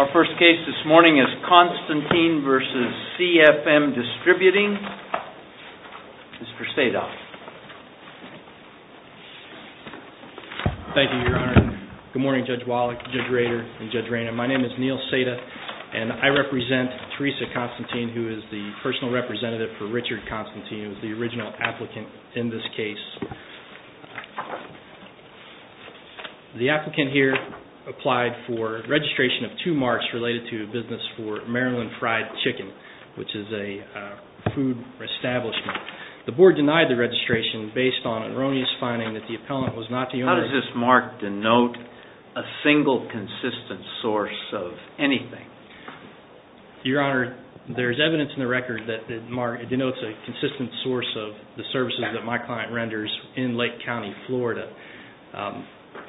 Our first case this morning is Constantine v. C.F.M. Distributing. Mr. Sada. Thank you, Your Honor. Good morning, Judge Wallach, Judge Rader, and Judge Rayner. My name is Neil Sada, and I represent Teresa Constantine, who is the personal representative for Richard Constantine, who is the original applicant in this case. The applicant here applied for registration of two marks related to a business for Maryland Fried Chicken, which is a food establishment. The board denied the registration based on erroneous finding that the appellant was not the owner. How does this mark denote a single consistent source of anything? Your Honor, there is evidence in the record that it denotes a consistent source of the services that my client renders in Lake County, Florida.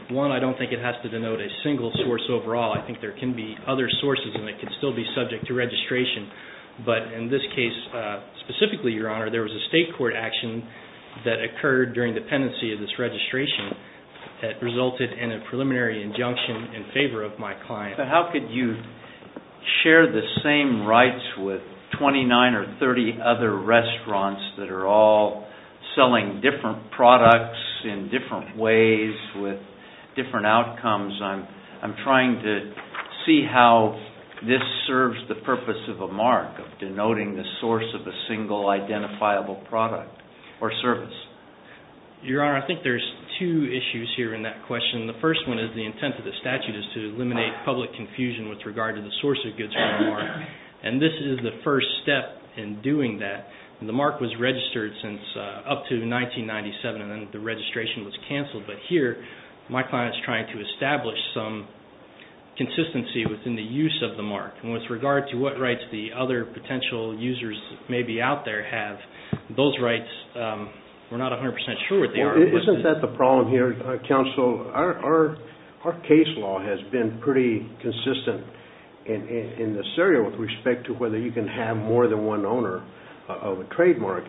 One, I don't think it has to denote a single source overall. I think there can be other sources, and they can still be subject to registration. But in this case specifically, Your Honor, there was a state court action that occurred during the pendency of this registration that resulted in a preliminary injunction in favor of my client. How could you share the same rights with 29 or 30 other restaurants that are all selling different products in different ways with different outcomes? I'm trying to see how this serves the purpose of a mark, of denoting the source of a single identifiable product or service. Your Honor, I think there's two issues here in that question. The first one is the intent of the statute is to eliminate public confusion with regard to the source of goods from the mark. And this is the first step in doing that. The mark was registered since up to 1997, and then the registration was canceled. But here, my client is trying to establish some consistency within the use of the mark. And with regard to what rights the other potential users may be out there have, those rights, we're not 100% sure what they are. Isn't that the problem here, Counsel? Our case law has been pretty consistent in this area with respect to whether you can have more than one owner of a trademark.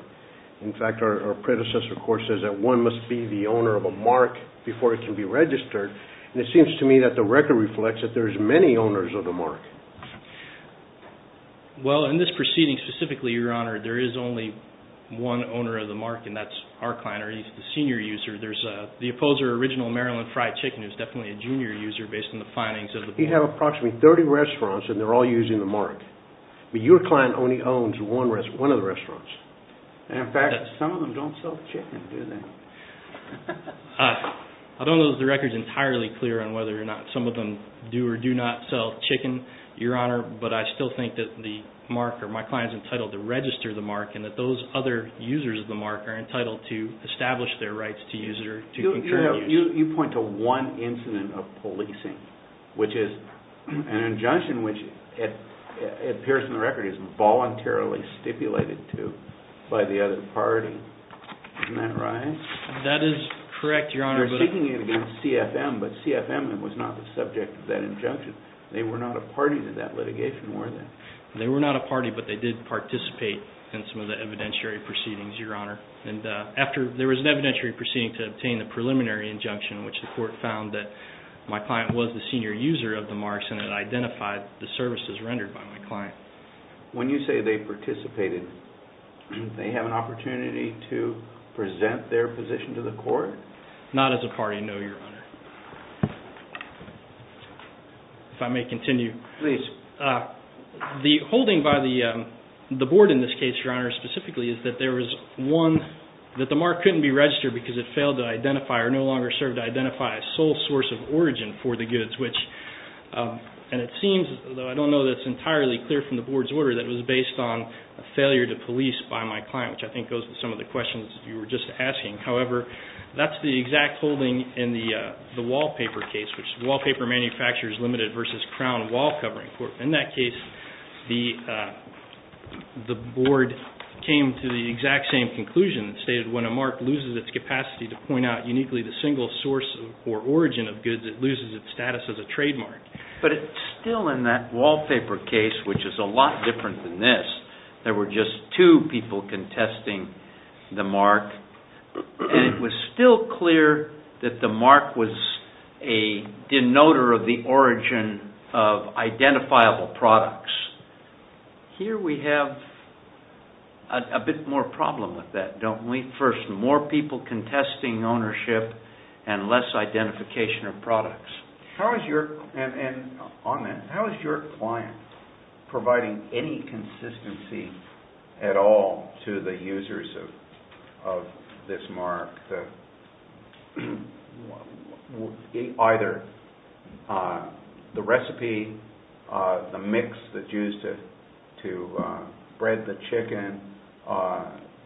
In fact, our predecessor court says that one must be the owner of a mark before it can be registered. And it seems to me that the record reflects that there's many owners of the mark. Well, in this proceeding specifically, Your Honor, there is only one owner of the mark, and that's our client, or he's the senior user. There's the opposer, original Maryland Fried Chicken, who's definitely a junior user based on the findings of the board. He had approximately 30 restaurants, and they're all using the mark. But your client only owns one of the restaurants. And in fact, some of them don't sell chicken, do they? I don't know that the record's entirely clear on whether or not some of them do or do not sell chicken, Your Honor. But I still think that the mark, or my client's entitled to register the mark, and that those other users of the mark are entitled to establish their rights to use it or to continue to use it. You point to one incident of policing, which is an injunction which, it appears in the record, is voluntarily stipulated to by the other party. Isn't that right? That is correct, Your Honor. You're speaking against CFM, but CFM was not the subject of that injunction. They were not a party to that litigation, were they? They were not a party, but they did participate in some of the evidentiary proceedings, Your Honor. There was an evidentiary proceeding to obtain the preliminary injunction, which the court found that my client was the senior user of the marks, and it identified the services rendered by my client. When you say they participated, they have an opportunity to present their position to the court? Not as a party, no, Your Honor. If I may continue. Please. The holding by the board in this case, Your Honor, specifically, is that there was one that the mark couldn't be registered because it failed to identify or no longer served to identify a sole source of origin for the goods, and it seems, though I don't know that it's entirely clear from the board's order, that it was based on a failure to police by my client, which I think goes with some of the questions you were just asking. However, that's the exact holding in the wallpaper case, which is Wallpaper Manufacturers Limited versus Crown Wall Covering Court. In that case, the board came to the exact same conclusion. It stated when a mark loses its capacity to point out uniquely the single source or origin of goods, it loses its status as a trademark. But it's still in that wallpaper case, which is a lot different than this. There were just two people contesting the mark, and it was still clear that the mark was a denoter of the origin of identifiable products. Here we have a bit more problem with that, don't we? First, more people contesting ownership and less identification of products. On that, how is your client providing any consistency at all to the users of this mark? Either the recipe, the mix that's used to bread the chicken,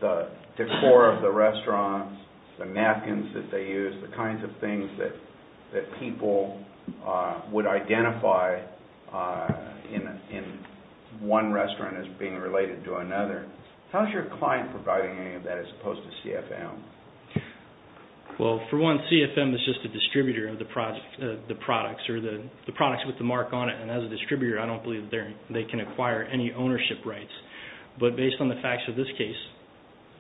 the decor of the restaurant, the napkins that they use, the kinds of things that people would identify in one restaurant as being related to another. How is your client providing any of that as opposed to CFM? For one, CFM is just a distributor of the products or the products with the mark on it. As a distributor, I don't believe they can acquire any ownership rights. But based on the facts of this case,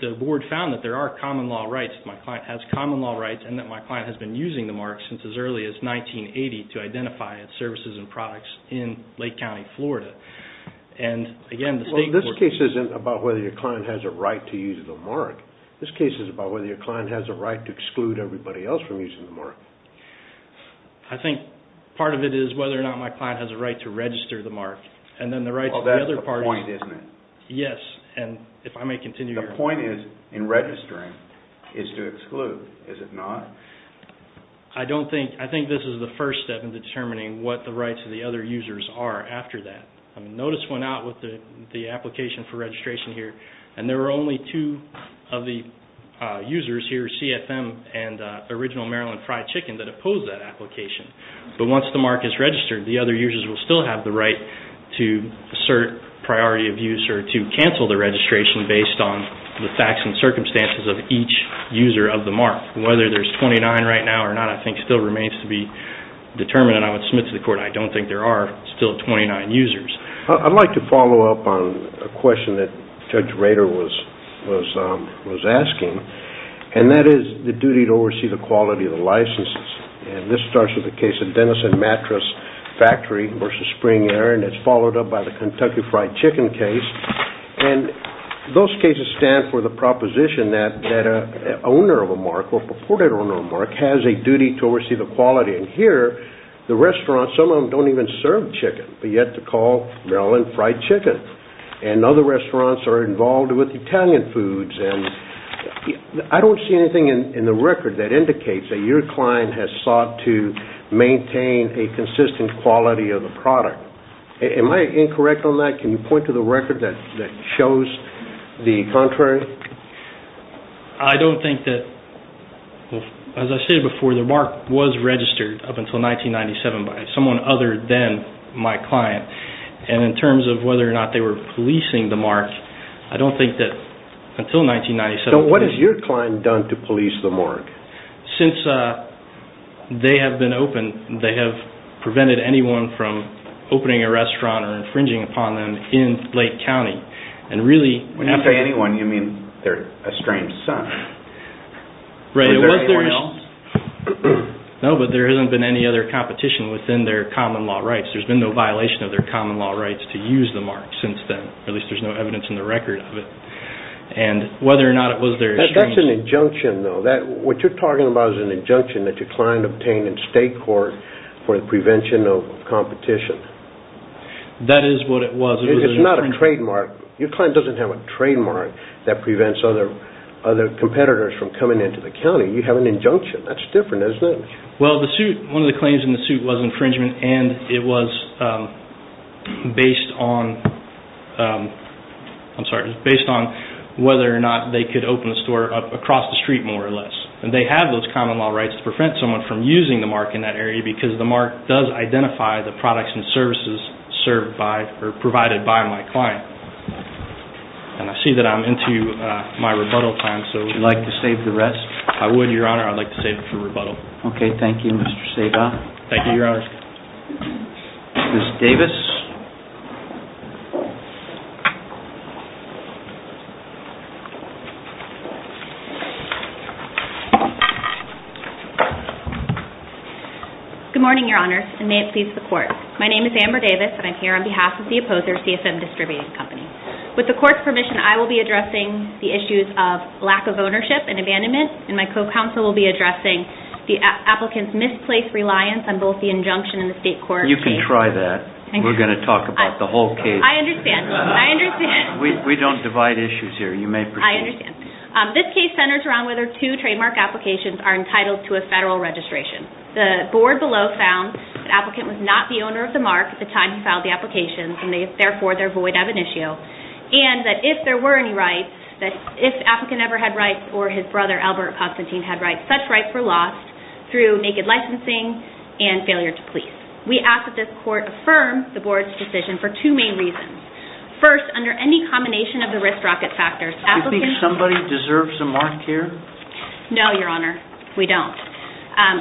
the board found that there are common law rights. My client has common law rights and that my client has been using the mark since as early as 1980 to identify its services and products in Lake County, Florida. This case isn't about whether your client has a right to use the mark. This case is about whether your client has a right to exclude everybody else from using the mark. I think part of it is whether or not my client has a right to register the mark. That's the point, isn't it? Yes, and if I may continue. The point in registering is to exclude, is it not? I think this is the first step in determining what the rights of the other users are after that. Notice went out with the application for registration here, and there were only two of the users here, CFM and Original Maryland Fried Chicken, that opposed that application. But once the mark is registered, the other users will still have the right to assert priority of use or to cancel the registration based on the facts and circumstances of each user of the mark. Whether there's 29 right now or not, I think, still remains to be determined. I would submit to the court I don't think there are still 29 users. I'd like to follow up on a question that Judge Rader was asking, and that is the duty to oversee the quality of the licenses. This starts with the case of Denison Mattress Factory versus Spring Air, and it's followed up by the Kentucky Fried Chicken case. Those cases stand for the proposition that an owner of a mark, or purported owner of a mark, has a duty to oversee the quality. Here, the restaurant, some of them don't even serve chicken, but yet they call Maryland Fried Chicken. Other restaurants are involved with Italian foods. I don't see anything in the record that indicates that your client has sought to maintain a consistent quality of the product. Am I incorrect on that? Can you point to the record that shows the contrary? I don't think that, as I stated before, the mark was registered up until 1997 by someone other than my client. In terms of whether or not they were policing the mark, I don't think that until 1997. What has your client done to police the mark? Since they have been open, they have prevented anyone from opening a restaurant or infringing upon them in Lake County. When you say anyone, you mean their estranged son. Right, it was their helms. No, but there hasn't been any other competition within their common law rights. There has been no violation of their common law rights to use the mark since then. At least, there is no evidence in the record of it. Whether or not it was their estranged... That's an injunction, though. What you're talking about is an injunction that your client obtained in state court for the prevention of competition. That is what it was. It's not a trademark. Your client doesn't have a trademark that prevents other competitors from coming into the county. You have an injunction. That's different, isn't it? One of the claims in the suit was infringement. It was based on whether or not they could open a store across the street, more or less. They have those common law rights to prevent someone from using the mark in that area because the mark does identify the products and services provided by my client. I see that I'm into my rebuttal time, so would you like to save the rest? I would, Your Honor. I would like to save it for rebuttal. Okay. Thank you, Mr. Seva. Thank you, Your Honor. Ms. Davis. Good morning, Your Honor, and may it please the court. My name is Amber Davis, and I'm here on behalf of the opposer, CSM Distributing Company. With the court's permission, I will be addressing the issues of lack of ownership and abandonment, and my co-counsel will be addressing the applicant's misplaced reliance on both the injunction and the state court. You can try that. We're going to talk about the whole case. I understand. I understand. We don't divide issues here. You may proceed. I understand. This case centers around whether two trademark applications are entitled to a federal registration. The board below found that the applicant was not the owner of the mark at the time he filed the application, and therefore they're void of an issue, and that if there were any rights, that if the applicant ever had rights or his brother, Albert Constantine, had rights, such rights were lost through naked licensing and failure to please. We ask that this court affirm the board's decision for two main reasons. First, under any combination of the risk-rocket factors, applicants... Do you think somebody deserves a mark here? No, Your Honor. We don't.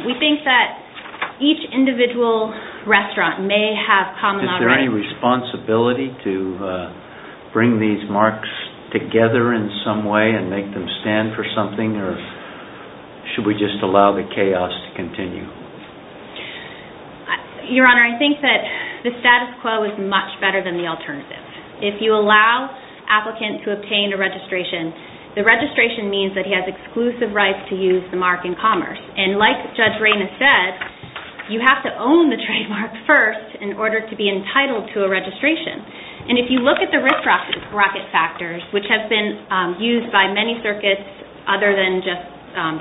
We think that each individual restaurant may have common... Is there any responsibility to bring these marks together in some way and make them stand for something, or should we just allow the chaos to continue? Your Honor, I think that the status quo is much better than the alternative. If you allow applicants to obtain a registration, the registration means that he has exclusive rights to use the mark in commerce. Like Judge Reyna said, you have to own the trademark first in order to be entitled to a registration. If you look at the risk-rocket factors, which have been used by many circuits other than just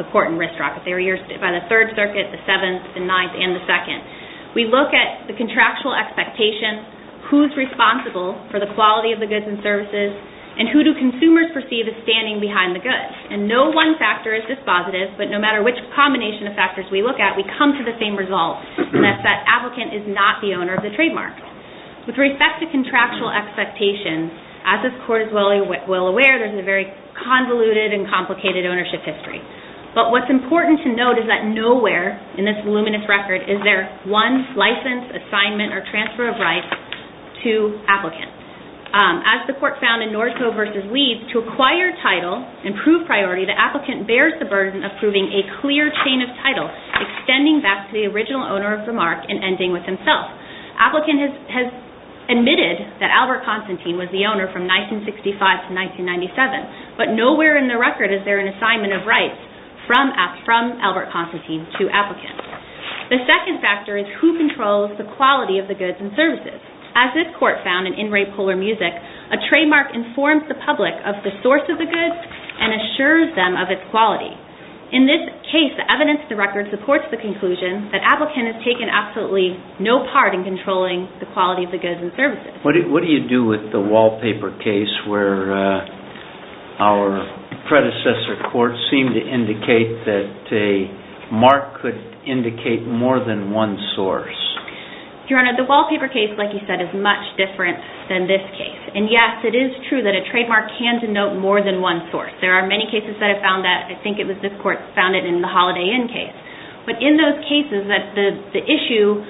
the court in risk-rocket, they were used by the Third Circuit, the Seventh, the Ninth, and the Second, we look at the contractual expectation, who's responsible for the quality of the goods and services, and who do consumers perceive as standing behind the goods. And no one factor is dispositive, but no matter which combination of factors we look at, we come to the same result, and that's that applicant is not the owner of the trademark. With respect to contractual expectations, as this Court is well aware, there's a very convoluted and complicated ownership history. But what's important to note is that nowhere in this voluminous record is there one license, assignment, or transfer of rights to applicants. As the Court found in Norco v. Weeds, to acquire title and prove priority, the applicant bears the burden of proving a clear chain of title, extending back to the original owner of the mark and ending with himself. Applicant has admitted that Albert Constantine was the owner from 1965 to 1997, but nowhere in the record is there an assignment of rights from Albert Constantine to applicants. The second factor is who controls the quality of the goods and services. As this Court found in In Re Polar Music, a trademark informs the public of the source of the goods and assures them of its quality. In this case, the evidence of the record supports the conclusion that applicant has taken absolutely no part in controlling the quality of the goods and services. What do you do with the wallpaper case where our predecessor courts seem to indicate that a mark could indicate more than one source? Your Honor, the wallpaper case, like you said, is much different than this case. And yes, it is true that a trademark can denote more than one source. There are many cases that have found that. I think it was this Court that found it in the Holiday Inn case. But in those cases, the issue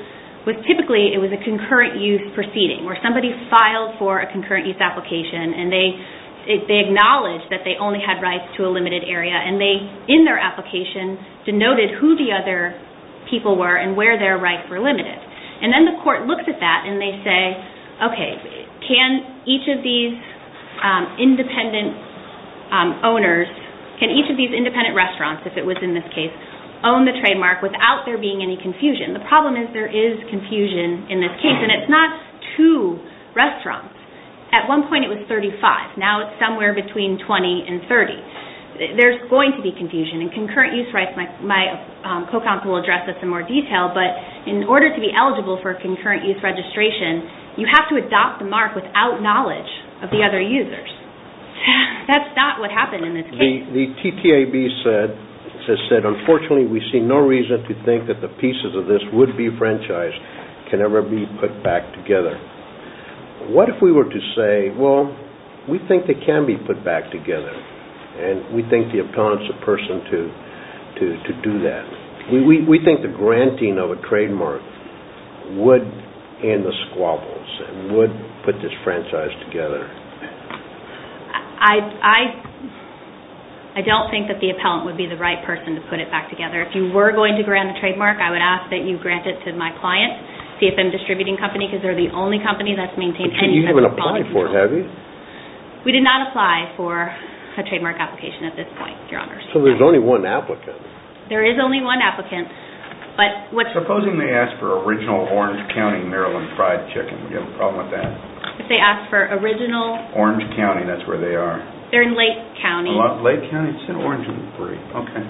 was typically a concurrent use proceeding where somebody filed for a concurrent use application and they acknowledged that they only had rights to a limited area and they, in their application, denoted who the other people were and where their rights were limited. And then the Court looks at that and they say, okay, can each of these independent owners, can each of these independent restaurants, if it was in this case, own the trademark without there being any confusion? The problem is there is confusion in this case. And it's not two restaurants. At one point it was 35. Now it's somewhere between 20 and 30. There's going to be confusion. And concurrent use rights, my co-counsel will address this in more detail, but in order to be eligible for a concurrent use registration, you have to adopt the mark without knowledge of the other users. That's not what happened in this case. The TTAB said, unfortunately, we see no reason to think that the pieces of this would-be franchise can ever be put back together. What if we were to say, well, we think they can be put back together. And we think the appellant's the person to do that. We think the granting of a trademark would end the squabbles and would put this franchise together. I don't think that the appellant would be the right person to put it back together. If you were going to grant a trademark, I would ask that you grant it to my client, CFM Distributing Company, because they're the only company that's maintained any type of policy. But you haven't applied for it, have you? We did not apply for a trademark application at this point, Your Honors. So there's only one applicant. There is only one applicant. Supposing they ask for original Orange County, Maryland fried chicken. Would you have a problem with that? If they ask for original- Orange County, that's where they are. They're in Lake County. Lake County? It said Orange and Free. Okay.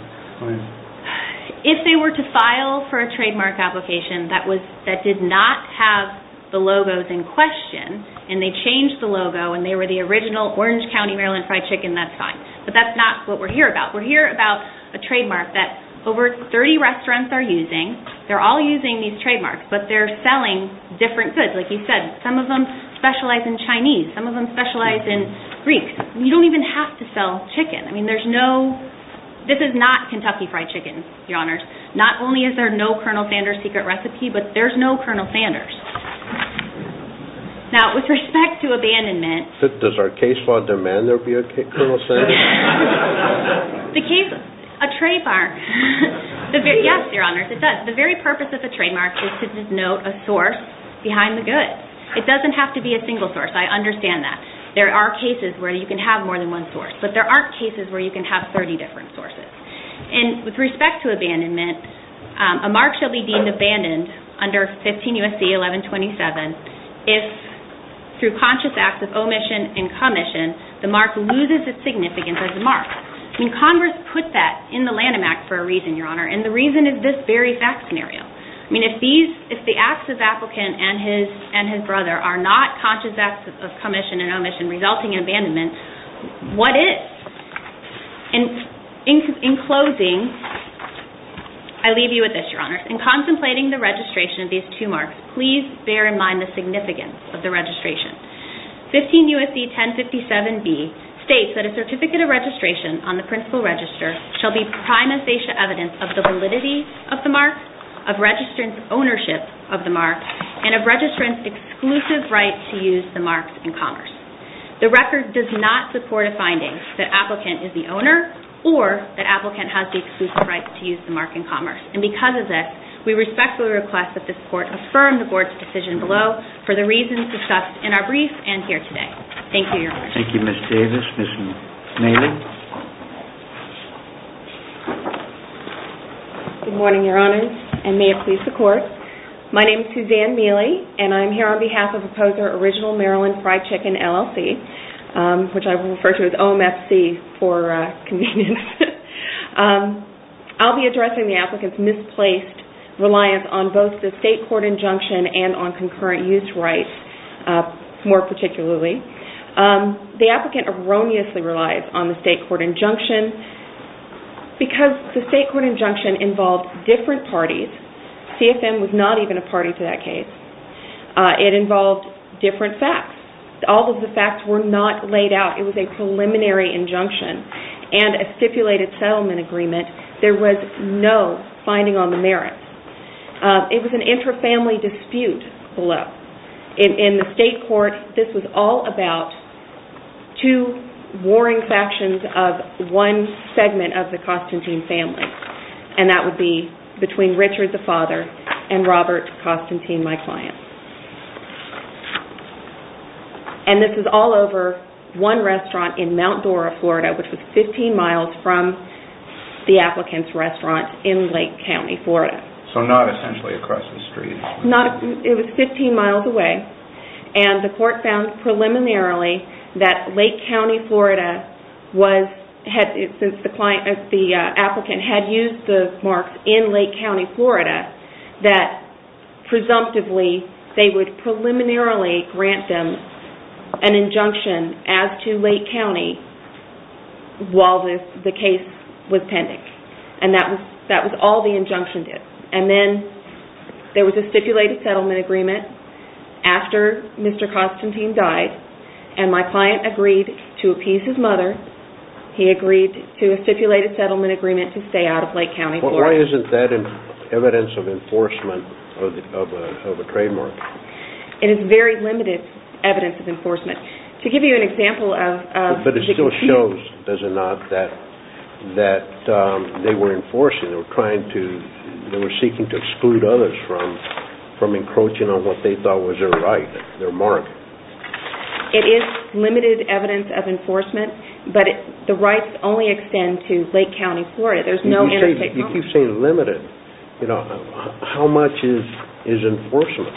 If they were to file for a trademark application that did not have the logos in question, and they changed the logo, and they were the original Orange County, Maryland fried chicken, that's fine. But that's not what we're here about. We're here about a trademark that over 30 restaurants are using. They're all using these trademarks, but they're selling different goods. Like you said, some of them specialize in Chinese. Some of them specialize in Greek. You don't even have to sell chicken. I mean, there's no- This is not Kentucky fried chicken, Your Honors. Not only is there no Colonel Sanders secret recipe, but there's no Colonel Sanders. Now, with respect to abandonment- Does our case law demand there be a Colonel Sanders? The case- A trademark. Yes, Your Honors. It does. The very purpose of the trademark is to denote a source behind the goods. It doesn't have to be a single source. I understand that. There are cases where you can have more than one source, but there aren't cases where you can have 30 different sources. With respect to abandonment, a mark shall be deemed abandoned under 15 U.S.C. 1127 if, through conscious acts of omission and commission, the mark loses its significance as a mark. Congress put that in the Lanham Act for a reason, Your Honor, and the reason is this very fact scenario. If the acts of applicant and his brother are not conscious acts of commission and omission resulting in abandonment, what is? In closing, I leave you with this, Your Honors. In contemplating the registration of these two marks, please bear in mind the significance of the registration. 15 U.S.C. 1057B states that a certificate of registration on the principal register shall be prime asatia evidence of the validity of the mark, of registrant's ownership of the mark, and of registrant's exclusive right to use the mark in commerce. The record does not support a finding that applicant is the owner or that applicant has the exclusive right to use the mark in commerce. And because of this, we respectfully request that this Court affirm the Board's decision below for the reasons discussed in our brief and here today. Thank you, Your Honor. Thank you, Ms. Davis. Ms. Meeley? Good morning, Your Honors, and may it please the Court. My name is Suzanne Meeley, and I'm here on behalf of Opposer Original Maryland Fried Chicken, LLC, which I will refer to as OMFC for convenience. I'll be addressing the applicant's misplaced reliance on both the state court injunction and on concurrent use rights, more particularly. The applicant erroneously relies on the state court injunction because the state court injunction involves different parties. CFM was not even a party to that case. It involved different facts. All of the facts were not laid out. It was a preliminary injunction and a stipulated settlement agreement. There was no finding on the merits. It was an inter-family dispute below. In the state court, this was all about two warring factions of one segment of the Constantine family, and that would be between Richard, the father, and Robert Constantine, my client. And this is all over one restaurant in Mount Dora, Florida, which was 15 miles from the applicant's restaurant in Lake County, Florida. So not essentially across the street. It was 15 miles away, and the court found preliminarily that Lake County, Florida, since the applicant had used the marks in Lake County, Florida, that presumptively they would preliminarily grant them an injunction as to Lake County while the case was pending. And that was all the injunction did. And then there was a stipulated settlement agreement after Mr. Constantine died, and my client agreed to appease his mother. He agreed to a stipulated settlement agreement to stay out of Lake County, Florida. Why isn't that evidence of enforcement of a trademark? It is very limited evidence of enforcement. To give you an example of... But it still shows, does it not, that they were enforcing, and they were seeking to exclude others from encroaching on what they thought was their right, their market. It is limited evidence of enforcement, but the rights only extend to Lake County, Florida. If you say limited, how much is enforcement?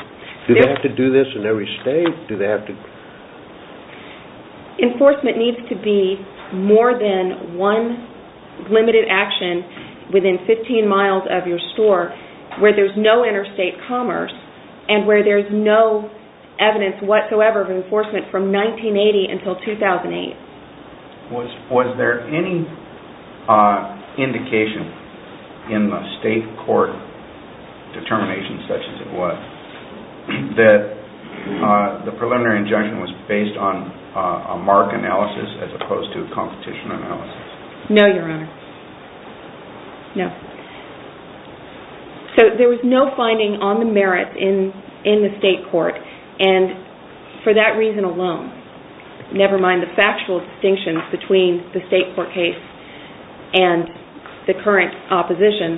Do they have to do this in every state? Enforcement needs to be more than one limited action within 15 miles of your store, where there is no interstate commerce, and where there is no evidence whatsoever of enforcement from 1980 until 2008. Was there any indication in the state court determination, such as it was, that the preliminary injunction was based on a mark analysis as opposed to a competition analysis? No, Your Honor. No. So there was no finding on the merits in the state court, and for that reason alone, never mind the factual distinctions between the state court case and the current opposition,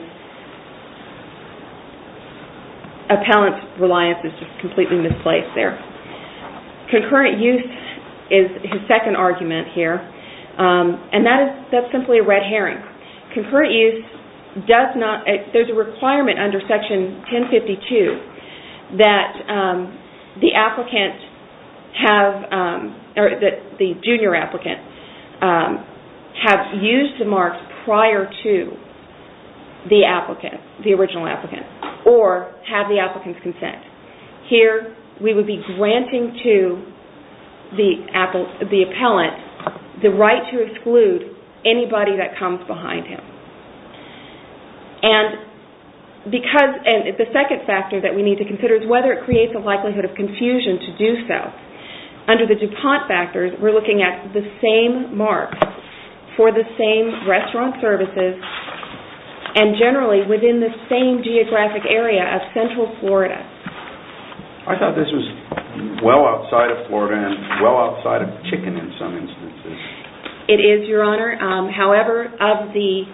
appellant reliance is just completely misplaced there. Concurrent use is his second argument here, and that is simply a red herring. Concurrent use does not... There is a requirement under Section 1052 that the applicant have... the original applicant, or have the applicant's consent. Here, we would be granting to the appellant the right to exclude anybody that comes behind him. The second factor that we need to consider is whether it creates a likelihood of confusion to do so. Under the DuPont factors, we're looking at the same mark for the same restaurant services, and generally within the same geographic area of Central Florida. I thought this was well outside of Florida and well outside of chicken in some instances. It is, Your Honor. However, of the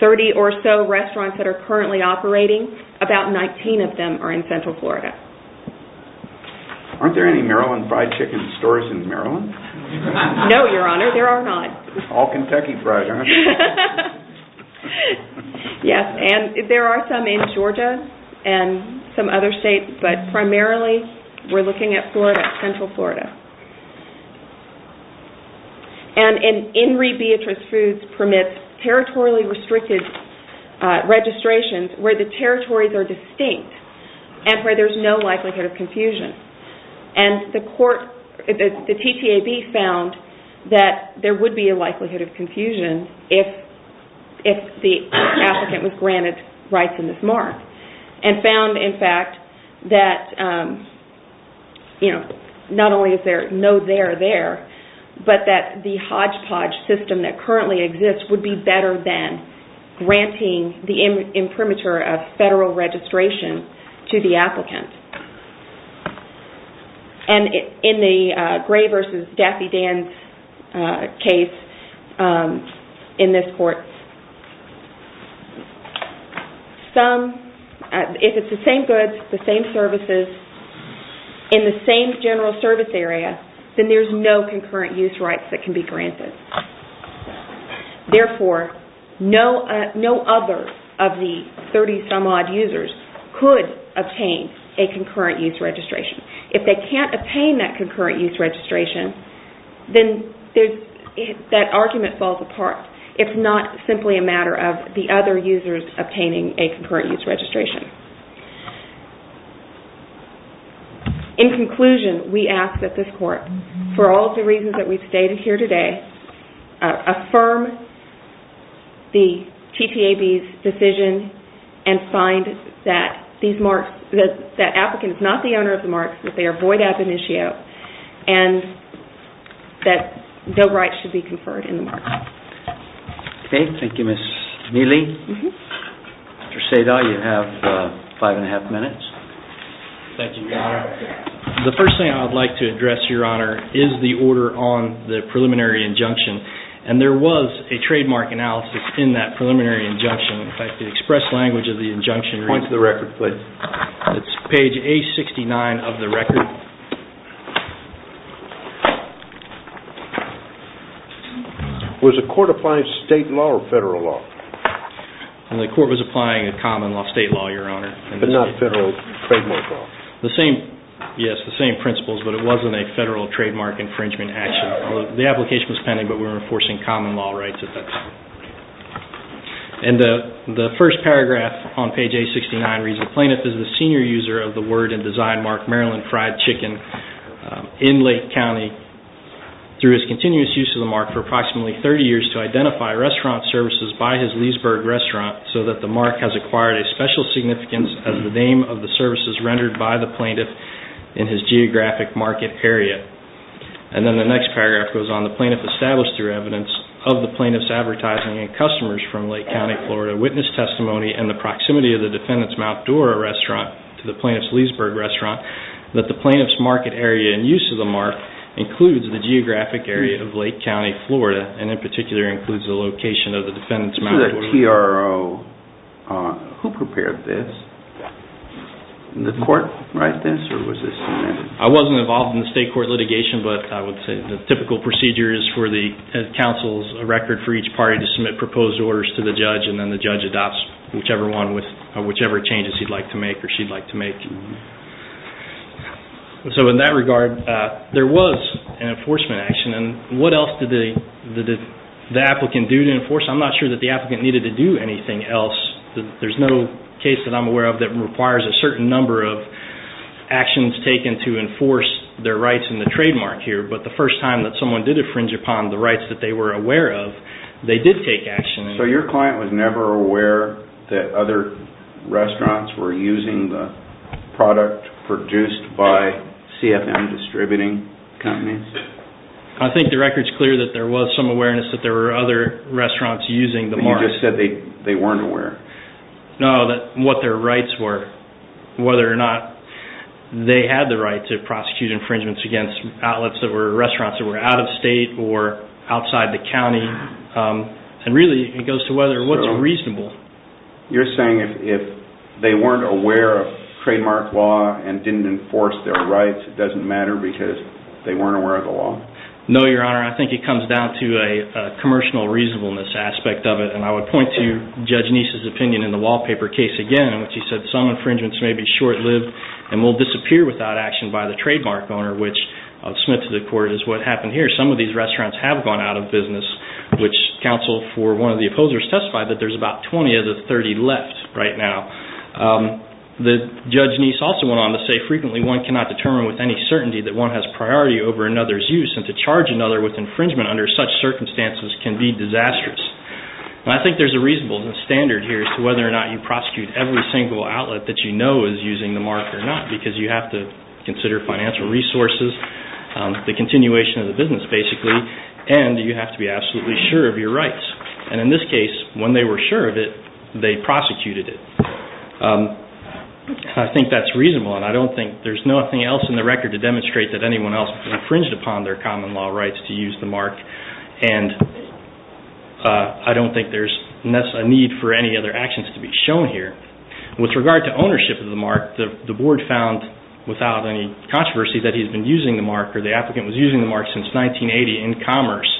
30 or so restaurants that are currently operating, about 19 of them are in Central Florida. Aren't there any Maryland fried chicken stores in Maryland? No, Your Honor. There are not. All Kentucky fried, aren't there? Yes, and there are some in Georgia and some other states, but primarily we're looking at Florida, Central Florida. And an In Re Beatrice Foods permits territorially restricted registrations where the territories are distinct and where there's no likelihood of confusion. The TTAB found that there would be a likelihood of confusion if the applicant was granted rights in this mark and found, in fact, that not only is there no there there, but that the hodgepodge system that currently exists would be better than granting the imprimatur of federal registration to the applicant. And in the Gray versus Daffy Dan's case in this court, if it's the same goods, the same services, in the same general service area, then there's no concurrent use rights that can be granted. Therefore, no other of the 30-some-odd users could obtain a concurrent use registration. If they can't obtain that concurrent use registration, then that argument falls apart. It's not simply a matter of the other users obtaining a concurrent use registration. In conclusion, we ask that this court, for all of the reasons that we've stated here today, affirm the TTAB's decision and find that the applicant is not the owner of the marks, that they are void ab initio, and that no rights should be conferred in the mark. Okay. Thank you, Ms. Neely. Mr. Sada, you have five and a half minutes. Thank you, Your Honor. The first thing I'd like to address, Your Honor, is the order on the preliminary injunction. And there was a trademark analysis in that preliminary injunction. In fact, the express language of the injunction reads- Point to the record, please. It's page A69 of the record. Was the court applying state law or federal law? The court was applying a common law state law, Your Honor. But not federal trademark law? Yes, the same principles, but it wasn't a federal trademark infringement action. The application was pending, but we were enforcing common law rights at that time. And the first paragraph on page A69 reads- The plaintiff is the senior user of the word and design mark, Maryland Fried Chicken, in Lake County, through his continuous use of the mark for approximately 30 years to identify restaurant services by his Leesburg restaurant so that the mark has acquired a special significance as the name of the services rendered by the plaintiff in his geographic market area. And then the next paragraph goes on- The plaintiff established through evidence of the plaintiff's advertising and customers from Lake County, Florida witness testimony and the proximity of the defendant's Mount Dora restaurant to the plaintiff's Leesburg restaurant that the plaintiff's market area and use of the mark includes the geographic area of Lake County, Florida and in particular includes the location of the defendant's Mount Dora- Who prepared this? Did the court write this or was this submitted? I wasn't involved in the state court litigation, but I would say the typical procedure is for the counsel's record for each party to submit proposed orders to the judge and then the judge adopts whichever changes he'd like to make or she'd like to make. So in that regard, there was an enforcement action. What else did the applicant do to enforce? I'm not sure that the applicant needed to do anything else. There's no case that I'm aware of that requires a certain number of actions taken to enforce their rights in the trademark here, but the first time that someone did infringe upon the rights that they were aware of, they did take action. So your client was never aware that other restaurants were using the product produced by CFM distributing companies? I think the record's clear that there was some awareness that there were other restaurants using the mark. You just said they weren't aware? No, that what their rights were, whether or not they had the right to prosecute infringements against outlets that were restaurants that were out of state or outside the county. And really, it goes to what's reasonable. You're saying if they weren't aware of trademark law and didn't enforce their rights, it doesn't matter because they weren't aware of the law? No, Your Honor. I think it comes down to a commercial reasonableness aspect of it, and I would point to Judge Neese's opinion in the wallpaper case again, in which he said some infringements may be short-lived and will disappear without action by the trademark owner, which, I'll submit to the court, is what happened here. Some of these restaurants have gone out of business, which counsel for one of the opposers testified that there's about 20 of the 30 left right now. Judge Neese also went on to say, frequently, one cannot determine with any certainty that one has priority over another's use, and to charge another with infringement under such circumstances can be disastrous. I think there's a reasonable standard here as to whether or not you prosecute every single outlet that you know is using the mark or not, because you have to consider financial resources, the continuation of the business, basically, and you have to be absolutely sure of your rights. And in this case, when they were sure of it, they prosecuted it. I think that's reasonable, and I don't think there's anything else in the record to demonstrate that anyone else infringed upon their common law rights to use the mark, and I don't think there's a need for any other actions to be shown here. With regard to ownership of the mark, the board found, without any controversy, that he's been using the mark or the applicant was using the mark since 1980 in commerce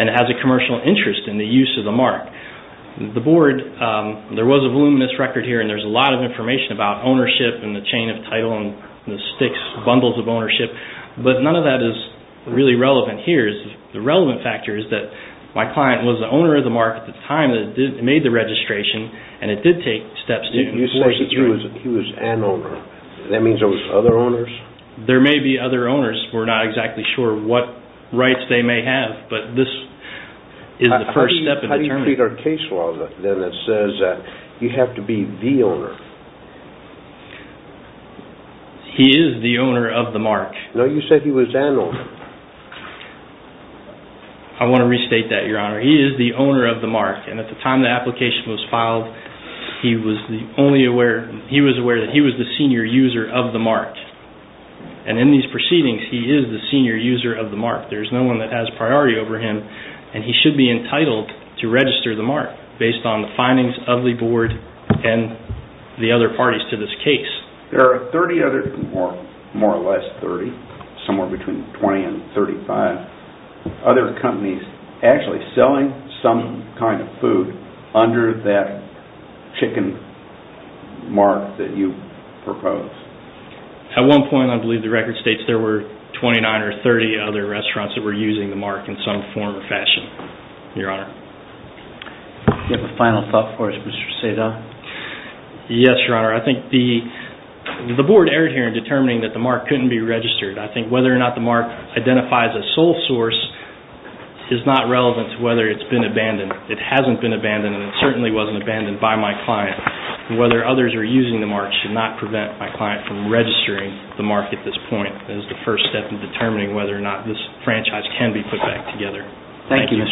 and has a commercial interest in the use of the mark. The board, there was a voluminous record here, and there's a lot of information about ownership and the chain of title and the sticks, bundles of ownership, but none of that is really relevant here. The relevant factor is that my client was the owner of the mark at the time that it made the registration, and it did take steps to enforce it through. He was an owner. That means there were other owners? There may be other owners. We're not exactly sure what rights they may have, but this is the first step in determining. How do you treat our case law then that says you have to be the owner? He is the owner of the mark. No, you said he was an owner. I want to restate that, Your Honor. He is the owner of the mark, and at the time the application was filed, he was aware that he was the senior user of the mark, and in these proceedings, he is the senior user of the mark. There is no one that has priority over him, and he should be entitled to register the mark based on the findings of the board and the other parties to this case. There are 30 other, more or less 30, somewhere between 20 and 35, other companies actually selling some kind of food under that chicken mark that you proposed. At one point, I believe the record states there were 29 or 30 other restaurants that were using the mark in some form or fashion, Your Honor. Do you have a final thought for us, Mr. Cesar? Yes, Your Honor. I think the board erred here in determining that the mark couldn't be registered. I think whether or not the mark identifies a sole source is not relevant to whether it's been abandoned. It hasn't been abandoned, and it certainly wasn't abandoned by my client. Whether others are using the mark should not prevent my client from registering the mark at this point. That is the first step in determining whether or not this franchise can be put back together. Thank you.